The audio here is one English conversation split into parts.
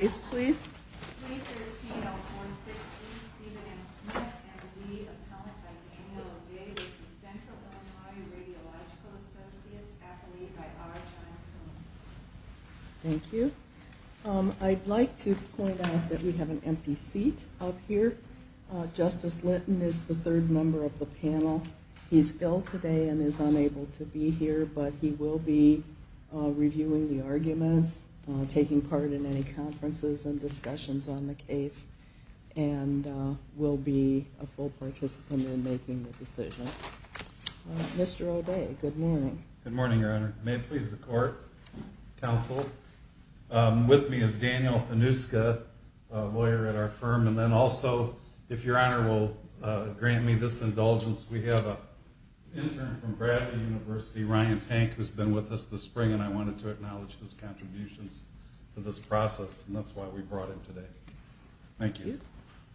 313-046-E, Stephen M. Smith, MD, appellant by Daniel O'Dea, with the Central Illinois Radiological Associates, affiliated by Argyle Film. Thank you. I'd like to point out that we have an empty seat up here. Justice Linton is the third member of the panel. He's ill today and is unable to be here, but he will be reviewing the arguments, taking part in any conferences and discussions on the case, and will be a full participant in making the decision. Mr. O'Dea, good morning. Good morning, Your Honor. May it please the Court, Counsel, with me is Daniel Anuska, a lawyer at our firm, and then also, if Your Honor will grant me this indulgence, we have an intern from Bradley University, Ryan Tank, who's been with us this spring, and I wanted to acknowledge his contributions to this process, and that's why we brought him today. Thank you.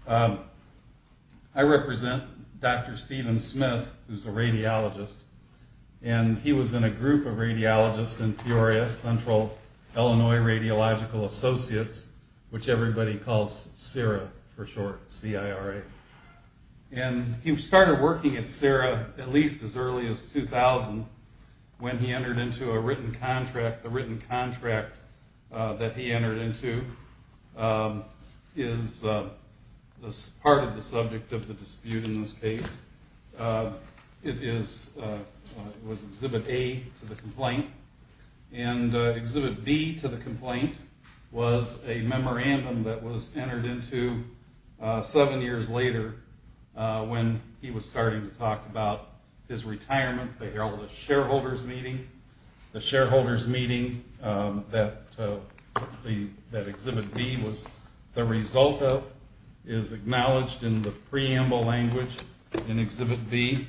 I represent Dr. Stephen Smith, who's a radiologist, and he was in a group of radiologists in Peoria, Central Illinois Radiological Associates, which everybody calls CIRA for short, C-I-R-A. And he started working at CIRA at least as early as 2000, when he entered into a written contract. The written contract that he entered into is part of the subject of the dispute in this case. It was Exhibit A to the complaint, and Exhibit B to the complaint was a memorandum that was entered into seven years later when he was starting to talk about his retirement. They held a shareholders meeting. The shareholders meeting that Exhibit B was the result of is acknowledged in the preamble language in Exhibit B.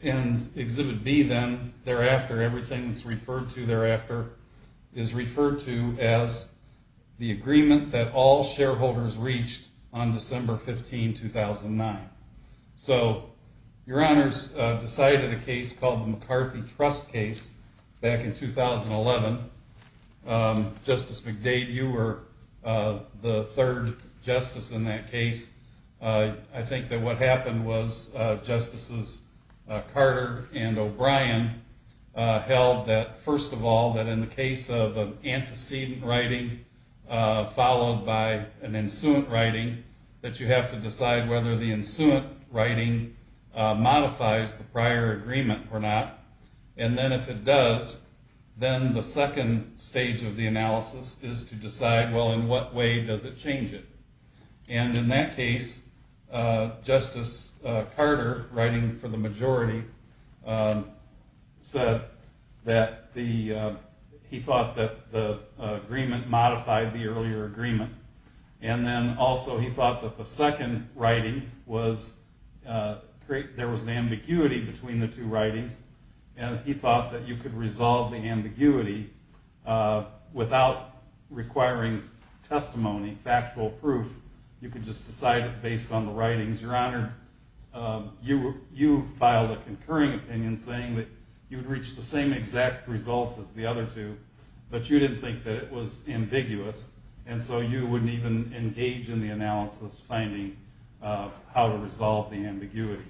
In Exhibit B then, thereafter, everything that's referred to thereafter is referred to as the agreement that all shareholders reached on December 15, 2009. So your honors decided a case called the McCarthy Trust Case back in 2011. Justice McDade, you were the third justice in that case. I think that what happened was Justices Carter and O'Brien held that, first of all, that in the case of antecedent writing followed by an ensuant writing, that you have to decide whether the ensuant writing modifies the prior agreement or not. And then if it does, then the second stage of the analysis is to decide, well, in what way does it change it? And in that case, Justice Carter, writing for the majority, said that he thought that the agreement modified the earlier agreement. And then also he thought that the second writing was, there was an ambiguity between the two writings, and he thought that you could resolve the ambiguity without requiring testimony, factual proof. You could just decide it based on the writings. Your honor, you filed a concurring opinion saying that you'd reach the same exact result as the other two, but you didn't think that it was ambiguous, and so you wouldn't even engage in the analysis finding how to resolve the ambiguity.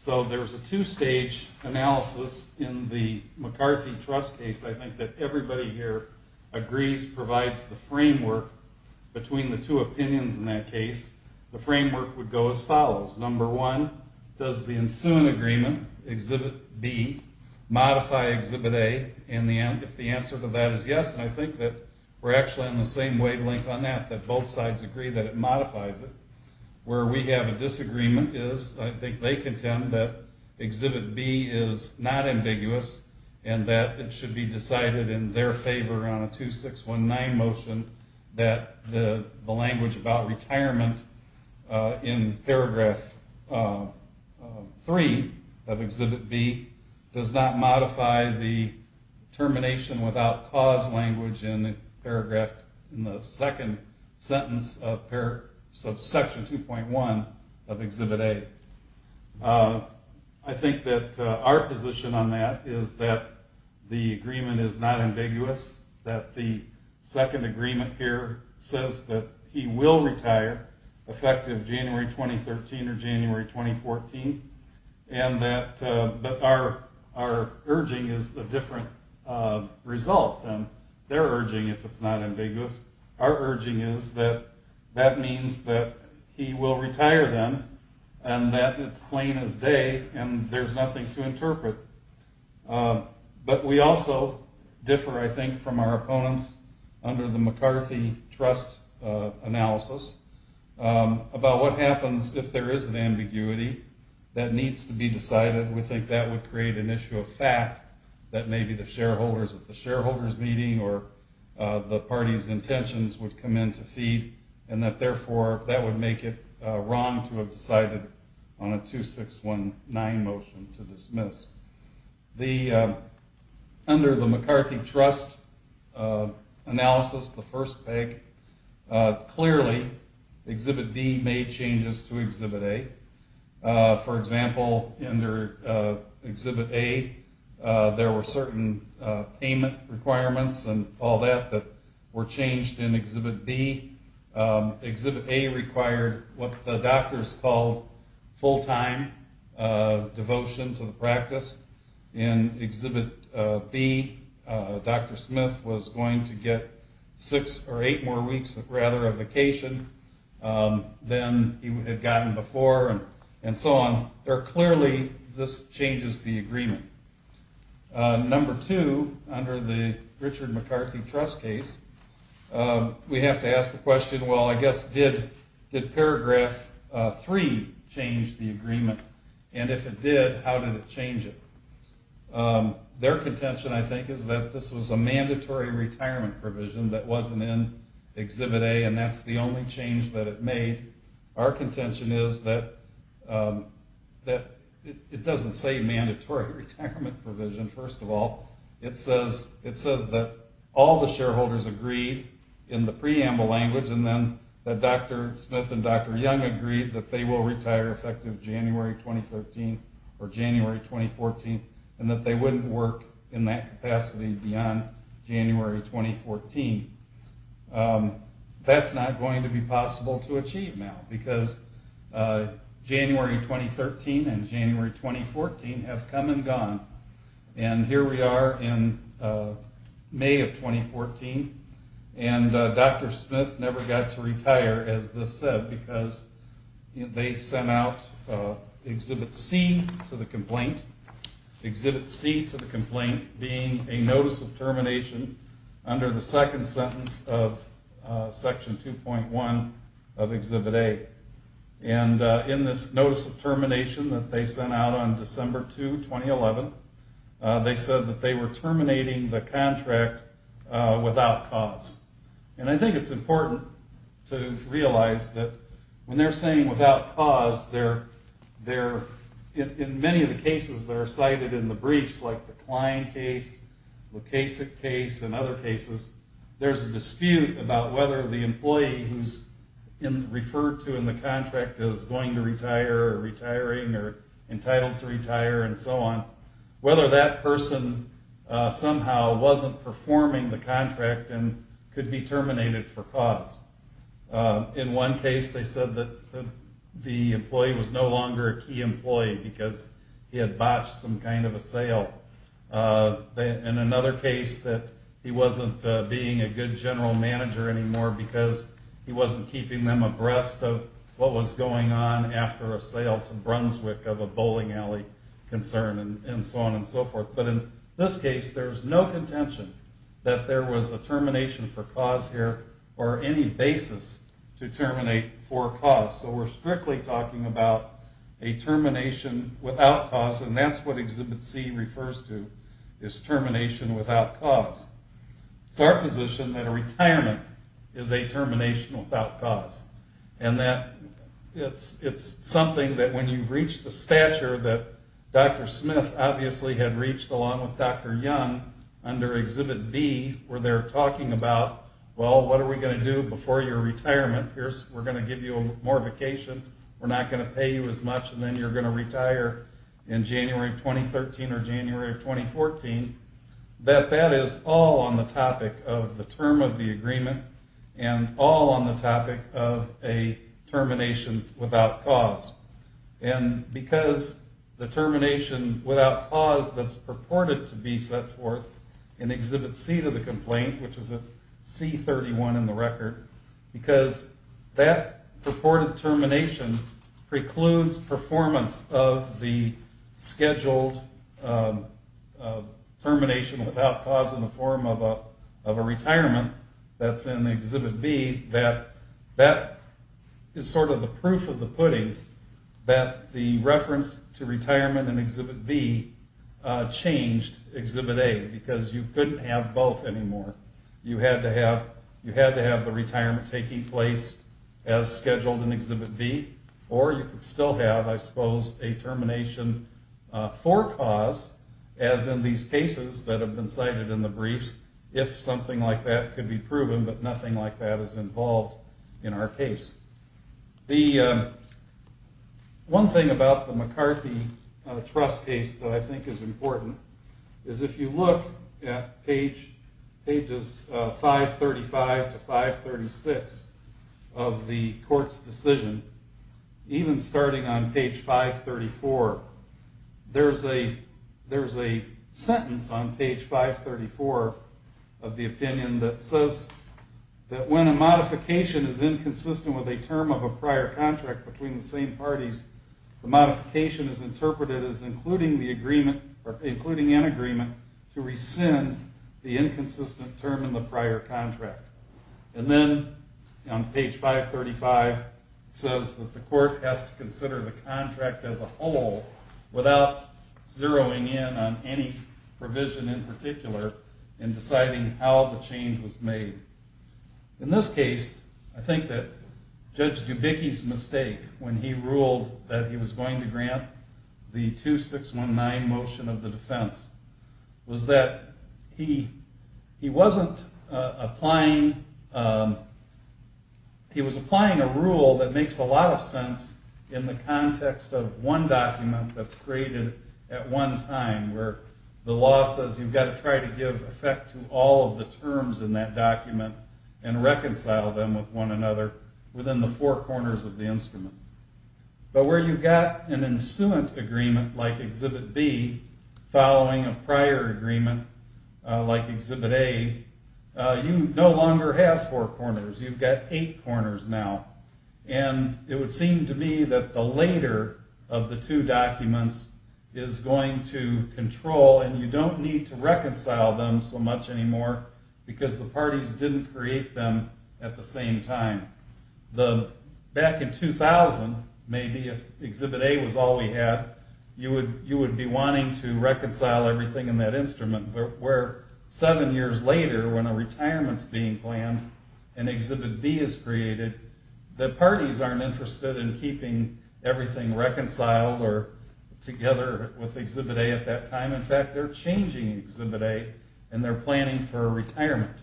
So there was a two-stage analysis in the McCarthy Trust Case. I think that everybody here agrees, provides the framework between the two opinions in that case. The framework would go as follows. Number one, does the ensuant agreement, Exhibit B, modify Exhibit A in the end? If the answer to that is yes, and I think that we're actually on the same wavelength on that, that both sides agree that it modifies it. Where we have a disagreement is, I think they contend that Exhibit B is not ambiguous, and that it should be decided in their favor on a 2619 motion that the language about retirement in Paragraph 3 of Exhibit B does not modify the termination without cause language in the second sentence of Section 2.1 of Exhibit A. I think that our position on that is that the agreement is not ambiguous, that the second agreement here says that he will retire effective January 2013 or January 2014, but our urging is a different result than their urging if it's not ambiguous. Our urging is that that means that he will retire then, and that it's plain as day and there's nothing to interpret. But we also differ, I think, from our opponents under the McCarthy Trust analysis about what happens if there is an ambiguity that needs to be decided. We think that would create an issue of fact that maybe the shareholders at the shareholders meeting or the party's intentions would come in to feed, and that therefore that would make it wrong to have decided on a 2619 motion to dismiss. Under the McCarthy Trust analysis, the first peg, clearly Exhibit B made changes to Exhibit A. For example, under Exhibit A, there were certain payment requirements and all that that were changed in Exhibit B. Exhibit A required what the doctors called full-time devotion to the practice. In Exhibit B, Dr. Smith was going to get six or eight more weeks of vacation than he had gotten before and so on. Clearly, this changes the agreement. Number two, under the Richard McCarthy Trust case, we have to ask the question, well, I guess, did Paragraph 3 change the agreement? And if it did, how did it change it? Their contention, I think, is that this was a mandatory retirement provision that wasn't in Exhibit A, and that's the only change that it made. Our contention is that it doesn't say mandatory retirement provision, first of all. It says that all the shareholders agreed in the preamble language and then that Dr. Smith and Dr. Young agreed that they will retire effective January 2013 or January 2014 and that they wouldn't work in that capacity beyond January 2014. That's not going to be possible to achieve now because January 2013 and January 2014 have come and gone. And here we are in May of 2014 and Dr. Smith never got to retire, as this said, because they sent out Exhibit C to the complaint. The complaint being a notice of termination under the second sentence of Section 2.1 of Exhibit A. And in this notice of termination that they sent out on December 2, 2011, they said that they were terminating the contract without cause. And I think it's important to realize that when they're saying without cause, in many of the cases that are cited in the briefs, like the Klein case, the Kasich case, and other cases, there's a dispute about whether the employee who's referred to in the contract as going to retire or retiring or entitled to retire and so on, whether that person somehow wasn't performing the contract and could be terminated for cause. In one case, they said that the employee was no longer a key employee because he had botched some kind of a sale. In another case, that he wasn't being a good general manager anymore because he wasn't keeping them abreast of what was going on after a sale to Brunswick of a bowling alley concern and so on and so forth. But in this case, there's no contention that there was a termination for cause here or any basis to terminate for cause. So we're strictly talking about a termination without cause, and that's what Exhibit C refers to as termination without cause. It's our position that a retirement is a termination without cause. It's something that when you reach the stature that Dr. Smith obviously had reached along with Dr. Young under Exhibit B where they're talking about, well, what are we going to do before your retirement? We're going to give you more vacation. We're not going to pay you as much, and then you're going to retire in January of 2013 or January of 2014. That is all on the topic of the term of the agreement and all on the topic of a termination without cause. And because the termination without cause that's purported to be set forth in Exhibit C to the complaint, which is a C31 in the record, because that purported termination precludes performance of the scheduled termination without cause in the form of a retirement that's in Exhibit B, that is sort of the proof of the pudding that the reference to retirement in Exhibit B changed Exhibit A because you couldn't have both anymore. You had to have the retirement taking place as scheduled in Exhibit B, or you could still have, I suppose, a termination for cause as in these cases that have been cited in the briefs if something like that could be proven, but nothing like that is involved in our case. The one thing about the McCarthy trust case that I think is important is if you look at pages 535 to 536 of the court's decision, even starting on page 534, there's a sentence on page 534 of the opinion that says that when a modification is inconsistent with a term of a prior contract between the same parties, the modification is interpreted as including an agreement to rescind the inconsistent term in the prior contract. And then on page 535, it says that the court has to consider the contract as a whole without zeroing in on any provision in particular in deciding how the change was made. In this case, I think that Judge Dubicki's mistake when he ruled that he was going to grant the 2619 motion of the defense was that he was applying a rule that makes a lot of sense in the context of one document that's created at one time where the law says you've got to try to give effect to all of the terms in that document and reconcile them with one another within the four corners of the instrument. But where you've got an ensuant agreement like Exhibit B following a prior agreement like Exhibit A, you no longer have four corners, you've got eight corners now. And it would seem to me that the later of the two documents is going to control and you don't need to reconcile them so much anymore because the parties didn't create them at the same time. Back in 2000, maybe if Exhibit A was all we had, you would be wanting to reconcile everything in that instrument, but where seven years later when a retirement is being planned and Exhibit B is created, the parties aren't interested in keeping everything reconciled or together with Exhibit A at that time. In fact, they're changing Exhibit A and they're planning for a retirement.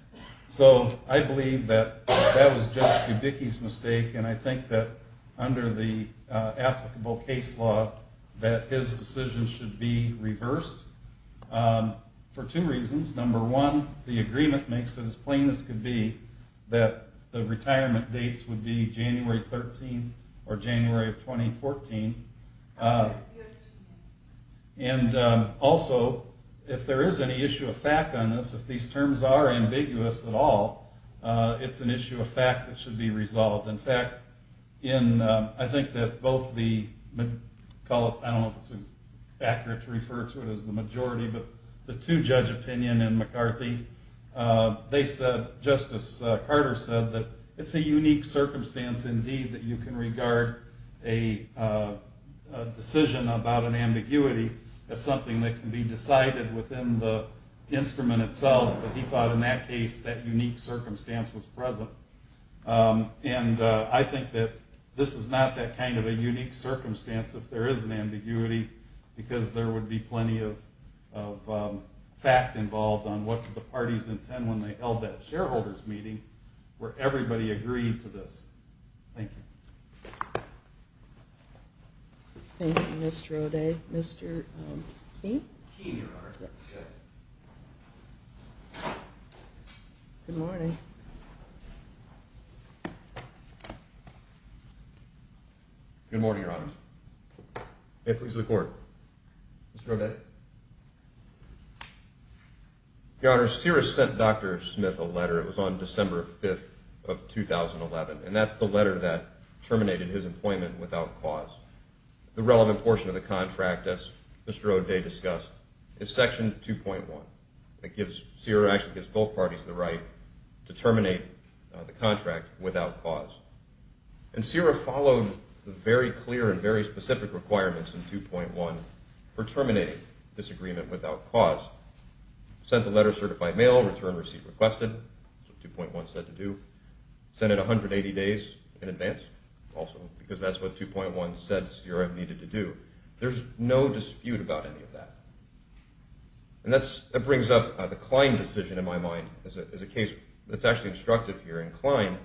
So I believe that that was just Kubicki's mistake and I think that under the applicable case law that his decision should be reversed for two reasons. Number one, the agreement makes it as plain as could be that the retirement dates would be January 13 or January of 2014. And also, if there is any issue of fact on this, if these terms are ambiguous at all, it's an issue of fact that should be resolved. In fact, I think that both the, I don't know if it's accurate to refer to it as the majority, but the two-judge opinion in McCarthy, they said, Justice Carter said, that it's a unique circumstance indeed that you can regard a decision about an ambiguity as something that can be decided within the instrument itself, but he thought in that case that unique circumstance was present. And I think that this is not that kind of a unique circumstance if there is an ambiguity, because there would be plenty of fact involved on what the parties intend when they held that shareholders meeting where everybody agreed to this. Thank you. Thank you, Mr. O'Day. Mr. Keene? Keene, Your Honor. Good morning. Good morning, Your Honor. May it please the Court. Mr. O'Day. Your Honor, CIRA sent Dr. Smith a letter. It was on December 5th of 2011, and that's the letter that terminated his employment without cause. The relevant portion of the contract, as Mr. O'Day discussed, is Section 2.1. CIRA actually gives both parties the right to terminate the contract without cause. And CIRA followed the very clear and very specific requirements in 2.1 for terminating this agreement without cause. Sent the letter certified mail, return receipt requested. That's what 2.1 said to do. Sent it 180 days in advance also, because that's what 2.1 said CIRA needed to do. There's no dispute about any of that. And that brings up the Klein decision in my mind as a case that's actually instructive here. In Klein,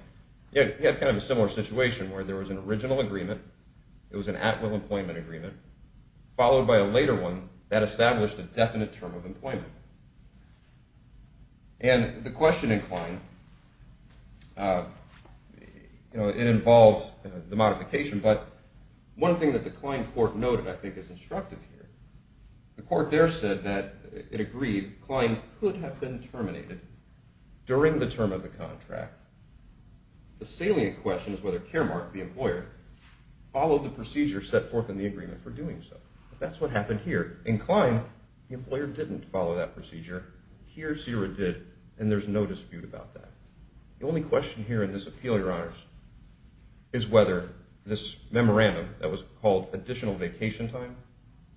you had kind of a similar situation where there was an original agreement, it was an at-will employment agreement, followed by a later one that established a definite term of employment. And the question in Klein, you know, it involved the modification, but one thing that the Klein court noted I think is instructive here. The court there said that it agreed Klein could have been terminated during the term of the contract. The salient question is whether Caremark, the employer, followed the procedure set forth in the agreement for doing so. That's what happened here. In Klein, the employer didn't follow that procedure. Here CIRA did, and there's no dispute about that. The only question here in this appeal, Your Honors, is whether this memorandum that was called additional vacation time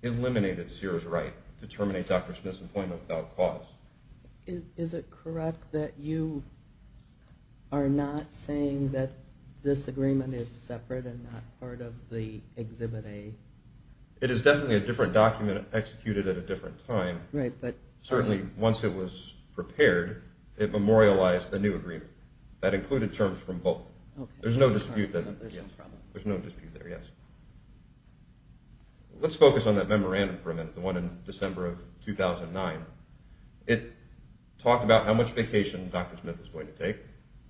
eliminated CIRA's right to terminate Dr. Smith's employment without cause. Is it correct that you are not saying that this agreement is separate and not part of the Exhibit A? It is definitely a different document executed at a different time. Certainly once it was prepared, it memorialized a new agreement. That included terms from both. There's no dispute there, yes. Let's focus on that memorandum for a minute, the one in December of 2009. It talked about how much vacation Dr. Smith was going to take.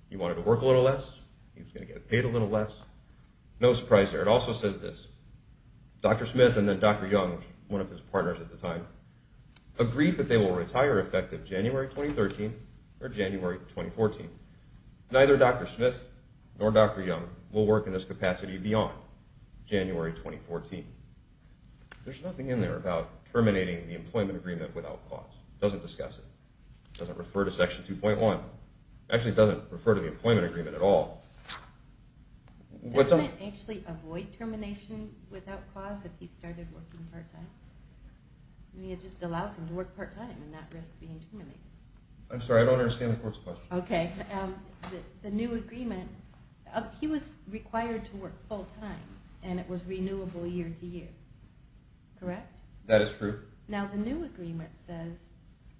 He wanted to work a little less. He was going to get paid a little less. No surprise there. It also says this, Dr. Smith and then Dr. Young, one of his partners at the time, agreed that they will retire effective January 2013 or January 2014. Neither Dr. Smith nor Dr. Young will work in this capacity beyond January 2014. There's nothing in there about terminating the employment agreement without cause. It doesn't discuss it. It doesn't refer to Section 2.1. It actually doesn't refer to the employment agreement at all. Doesn't it actually avoid termination without cause if he started working part-time? It just allows him to work part-time and not risk being terminated. I'm sorry, I don't understand the court's question. Okay. The new agreement, he was required to work full-time, and it was renewable year-to-year, correct? That is true. Now the new agreement says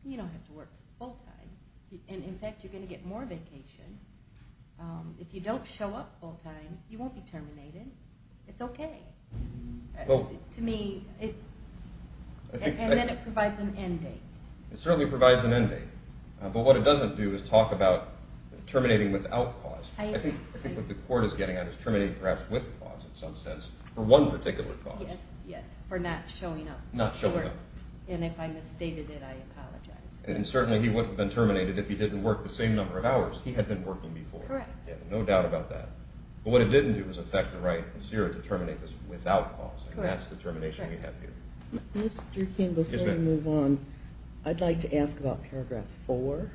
you don't have to work full-time. In fact, you're going to get more vacation. If you don't show up full-time, you won't be terminated. It's okay. To me, it provides an end date. It certainly provides an end date. But what it doesn't do is talk about terminating without cause. I think what the court is getting at is terminating perhaps with cause in some sense for one particular cause. Yes, yes, for not showing up. Not showing up. And if I misstated it, I apologize. And certainly he wouldn't have been terminated if he didn't work the same number of hours. He had been working before. Correct. No doubt about that. But what it didn't do was affect the right of CIRA to terminate this without cause, and that's the termination we have here. Mr. King, before we move on, I'd like to ask about Paragraph 4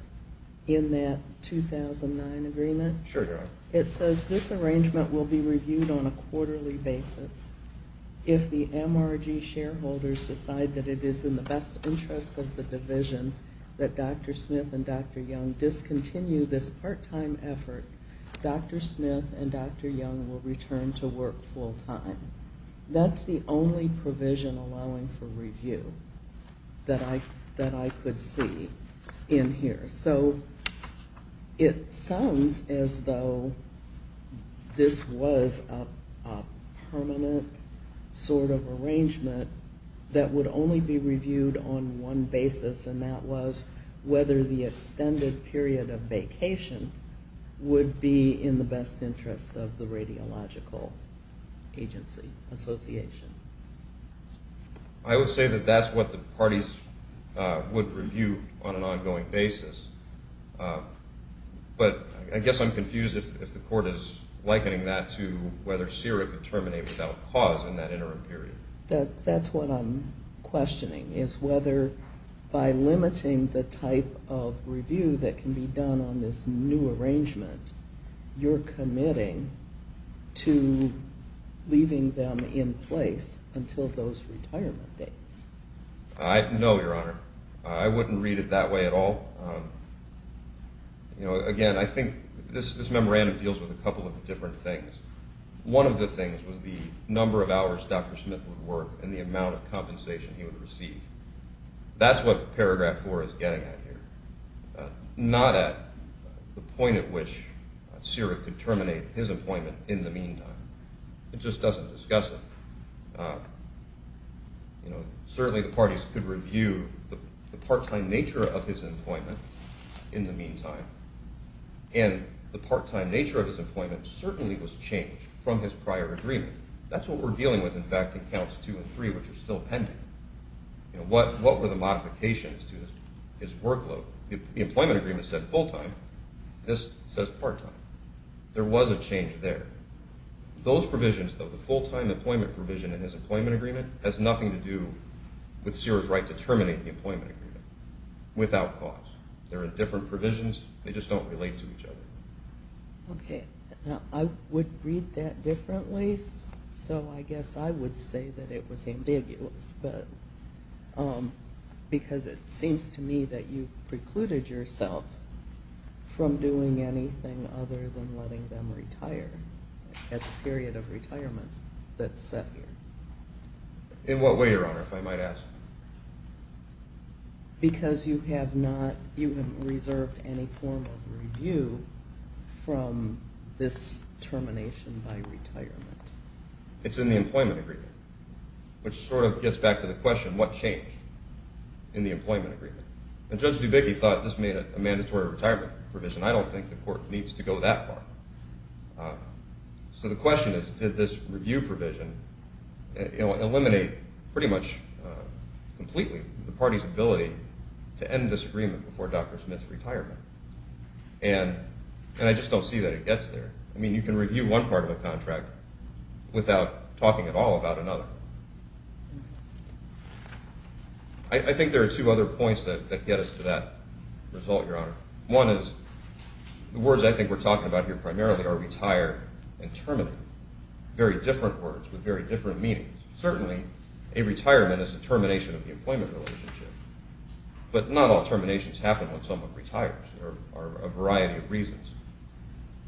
in that 2009 agreement. Sure, Joan. It says this arrangement will be reviewed on a quarterly basis. If the MRG shareholders decide that it is in the best interest of the division that Dr. Smith and Dr. Young discontinue this part-time effort, Dr. Smith and Dr. Young will return to work full-time. That's the only provision allowing for review that I could see in here. So it sounds as though this was a permanent sort of arrangement that would only be reviewed on one basis, and that was whether the extended period of vacation would be in the best interest of the Radiological Agency Association. I would say that that's what the parties would review on an ongoing basis, but I guess I'm confused if the Court is likening that to whether CIRA could terminate without cause in that interim period. That's what I'm questioning, is whether by limiting the type of review that can be done on this new arrangement, you're committing to leaving them in place until those retirement dates. No, Your Honor. I wouldn't read it that way at all. Again, I think this memorandum deals with a couple of different things. One of the things was the number of hours Dr. Smith would work and the amount of compensation he would receive. That's what Paragraph 4 is getting at here. Not at the point at which CIRA could terminate his employment in the meantime. It just doesn't discuss it. Certainly, the parties could review the part-time nature of his employment in the meantime, and the part-time nature of his employment certainly was changed from his prior agreement. That's what we're dealing with, in fact, in Counts 2 and 3, which are still pending. What were the modifications to his workload? The employment agreement said full-time. This says part-time. There was a change there. Those provisions, though, the full-time employment provision in his employment agreement, has nothing to do with CIRA's right to terminate the employment agreement without cause. There are different provisions. They just don't relate to each other. Okay. Now, I would read that differently, so I guess I would say that it was ambiguous, because it seems to me that you've precluded yourself from doing anything other than letting them retire at the period of retirement that's set here. In what way, Your Honor, if I might ask? Because you have not reserved any form of review from this termination by retirement. It's in the employment agreement, which sort of gets back to the question, what changed in the employment agreement? And Judge Dubecki thought this made a mandatory retirement provision. I don't think the court needs to go that far. So the question is, did this review provision eliminate pretty much completely the party's ability to end this agreement before Dr. Smith's retirement? And I just don't see that it gets there. I mean, you can review one part of a contract without talking at all about another. I think there are two other points that get us to that result, Your Honor. One is the words I think we're talking about here primarily are retire and terminate, very different words with very different meanings. Certainly, a retirement is a termination of the employment relationship, but not all terminations happen when someone retires. There are a variety of reasons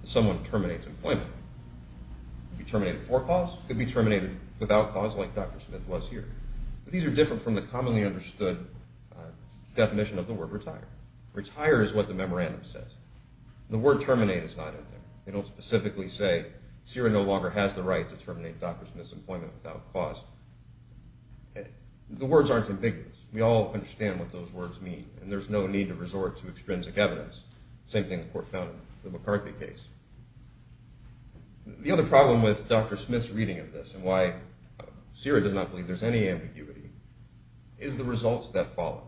someone terminates employment. It could be terminated for cause. It could be terminated without cause, like Dr. Smith was here. But these are different from the commonly understood definition of the word retire. Retire is what the memorandum says. The word terminate is not in there. They don't specifically say, CIRA no longer has the right to terminate Dr. Smith's employment without cause. The words aren't ambiguous. We all understand what those words mean, and there's no need to resort to extrinsic evidence. Same thing the court found in the McCarthy case. The other problem with Dr. Smith's reading of this and why CIRA does not believe there's any ambiguity is the results that follow.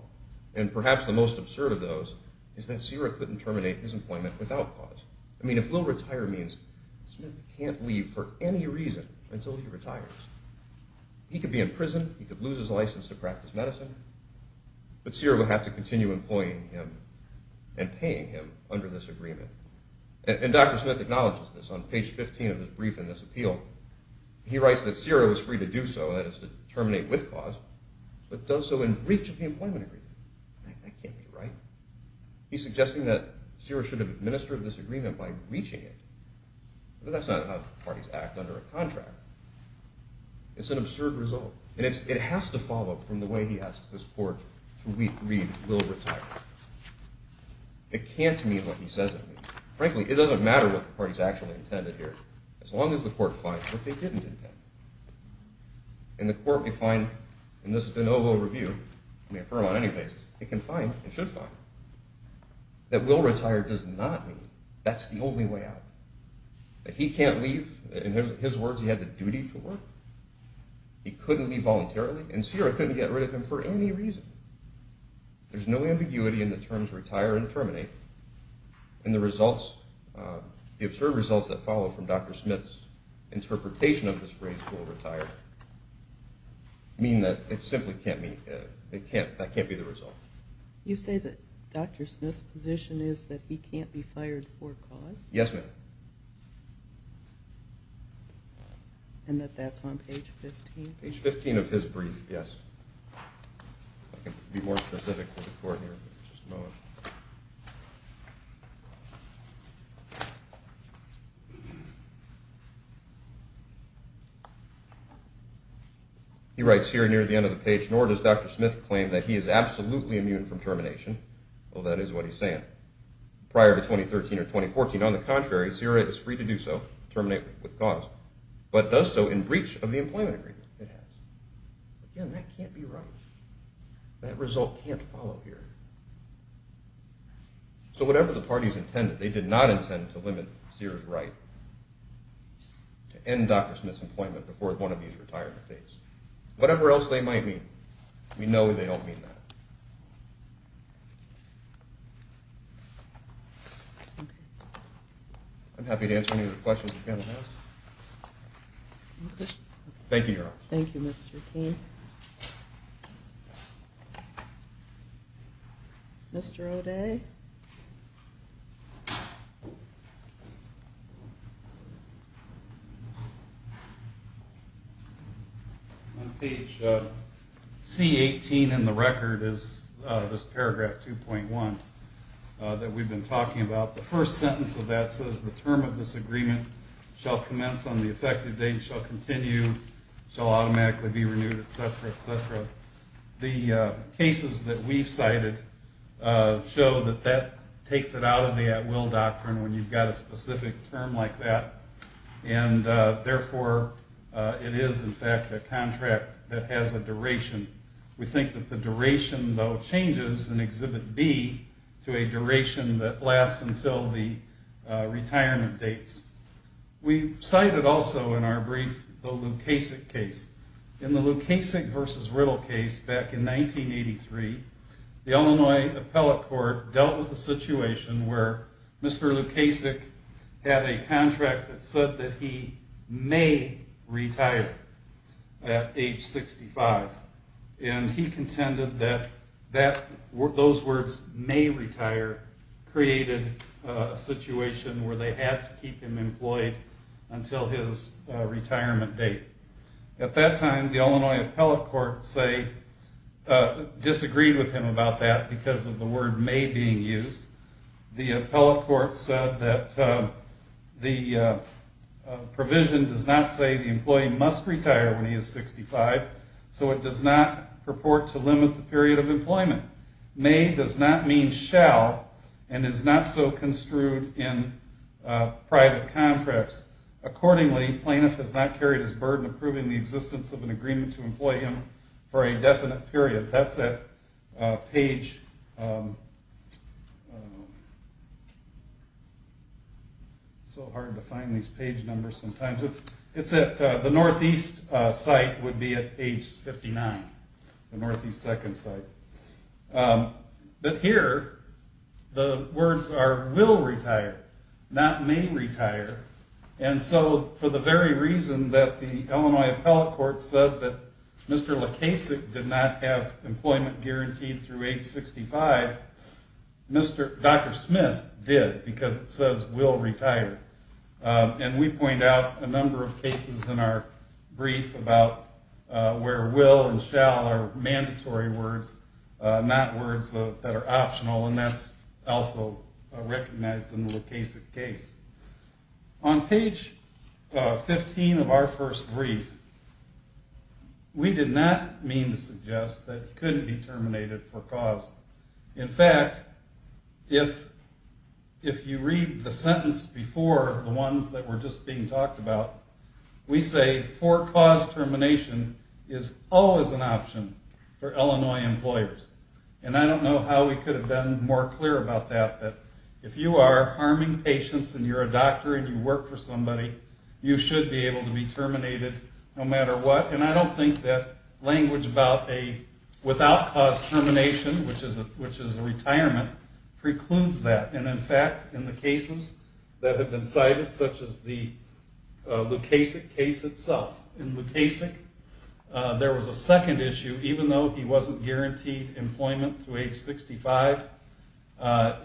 And perhaps the most absurd of those is that CIRA couldn't terminate his employment without cause. I mean, if we'll retire means Smith can't leave for any reason until he retires. He could be in prison. He could lose his license to practice medicine. But CIRA would have to continue employing him and paying him under this agreement. And Dr. Smith acknowledges this on page 15 of his brief in this appeal. He writes that CIRA was free to do so, that is to terminate with cause, but does so in reach of the employment agreement. That can't be right. He's suggesting that CIRA should have administered this agreement by breaching it. But that's not how parties act under a contract. It's an absurd result. And it has to follow from the way he asks this court to read Will Retire. It can't mean what he says it means. Frankly, it doesn't matter what the parties actually intended here, as long as the court finds what they didn't intend. And the court may find in this de novo review, may affirm on any basis, it can find, it should find, that Will Retire does not mean that's the only way out. That he can't leave. In his words, he had the duty to work. He couldn't leave voluntarily. And CIRA couldn't get rid of him for any reason. There's no ambiguity in the terms retire and terminate. And the results, the absurd results that follow from Dr. Smith's interpretation of this phrase, Will Retire, mean that it simply can't be, that can't be the result. You say that Dr. Smith's position is that he can't be fired for cause? Yes, ma'am. And that that's on page 15? Page 15 of his brief, yes. I can be more specific with the court here in just a moment. He writes here near the end of the page, nor does Dr. Smith claim that he is absolutely immune from termination. Well, that is what he's saying. Prior to 2013 or 2014, on the contrary, CIRA is free to do so, terminate with cause, but does so in breach of the employment agreement. It has. Again, that can't be right. That result can't follow here. So whatever the parties intended, they did not intend to limit CIRA's right to end Dr. Smith's employment before one of these retirement dates. Whatever else they might mean, we know they don't mean that. I'm happy to answer any of the questions the panel has. Thank you, Your Honor. Thank you, Mr. King. Mr. O'Day? On page C18 in the record is this paragraph 2.1 that we've been talking about. The first sentence of that says, the term of this agreement shall commence on the effective date, shall continue, shall automatically be renewed, etc., etc. The cases that we've cited show that that takes it out of the at-will doctrine when you've got a specific term like that, and therefore it is, in fact, a contract that has a duration. We think that the duration, though, changes in Exhibit B to a duration that lasts until the retirement dates. We cited also in our brief the Lukasik case. In the Lukasik v. Riddle case back in 1983, the Illinois Appellate Court dealt with a situation where Mr. Lukasik had a contract that said that he may retire at age 65, and he contended that those words, may retire, created a situation where they had to keep him employed until his retirement date. At that time, the Illinois Appellate Court disagreed with him about that because of the word may being used. The Appellate Court said that the provision does not say the employee must retire when he is 65, so it does not purport to limit the period of employment. May does not mean shall, and is not so construed in private contracts. Accordingly, plaintiff has not carried his burden of proving the existence of an agreement to employ him for a definite period. That's at page... It's so hard to find these page numbers sometimes. The northeast site would be at age 59. The northeast second site. But here, the words are will retire, not may retire. And so for the very reason that the Illinois Appellate Court said that Mr. Lukasik did not have employment guaranteed through age 65, Dr. Smith did because it says will retire. And we point out a number of cases in our brief about where will and shall are mandatory words, not words that are optional, and that's also recognized in the Lukasik case. On page 15 of our first brief, we did not mean to suggest that he couldn't be terminated for cause. In fact, if you read the sentence before, the ones that were just being talked about, we say for cause termination is always an option for Illinois employers. And I don't know how we could have been more clear about that, but if you are harming patients and you're a doctor and you work for somebody, you should be able to be terminated no matter what. And I don't think that language about a without cause termination, which is a retirement, precludes that. And, in fact, in the cases that have been cited, such as the Lukasik case itself, in Lukasik there was a second issue. Even though he wasn't guaranteed employment through age 65,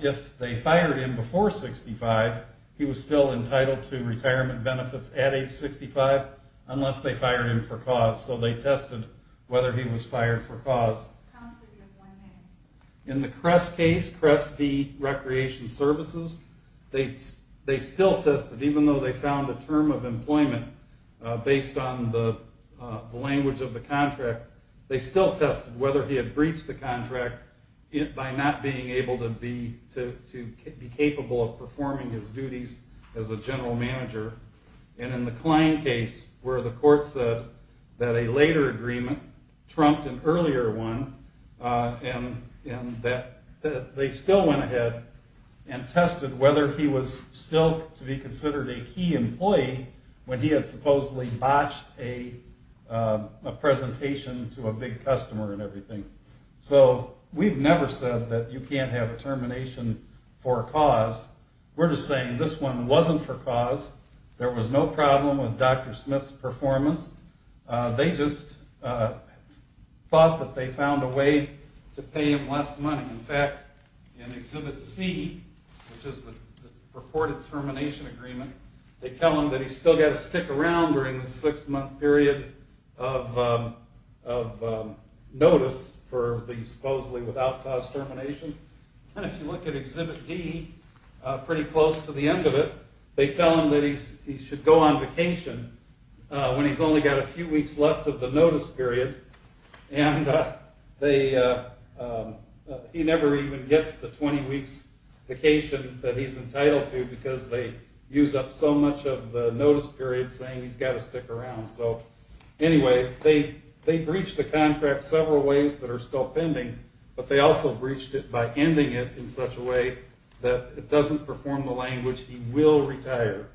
if they fired him before 65, he was still entitled to retirement benefits at age 65 unless they fired him for cause. So they tested whether he was fired for cause. In the Kress case, Kress v. Recreation Services, they still tested, even though they found a term of employment based on the language of the contract, they still tested whether he had breached the contract by not being able to be capable of performing his duties as a general manager. And in the Klein case, where the court said that a later agreement trumped an earlier one, they still went ahead and tested whether he was still to be considered a key employee when he had supposedly botched a presentation to a big customer and everything. So we've never said that you can't have a termination for a cause. We're just saying this one wasn't for cause. There was no problem with Dr. Smith's performance. They just thought that they found a way to pay him less money. In fact, in Exhibit C, which is the purported termination agreement, they tell him that he's still got to stick around during the six-month period of notice for the supposedly without cause termination. And if you look at Exhibit D, pretty close to the end of it, they tell him that he should go on vacation when he's only got a few weeks left of the notice period. And he never even gets the 20 weeks vacation that he's entitled to because they use up so much of the notice period saying he's got to stick around. So anyway, they breached the contract several ways that are still pending, but they also breached it by ending it in such a way that it doesn't perform the language he will retire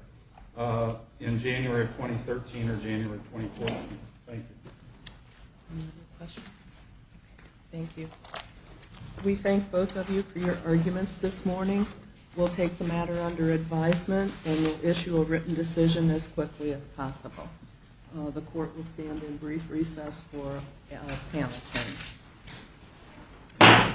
in January of 2013 or January of 2014. Thank you. Any other questions? Thank you. We thank both of you for your arguments this morning. We'll take the matter under advisement and we'll issue a written decision as quickly as possible. The court will stand in brief recess for panel time.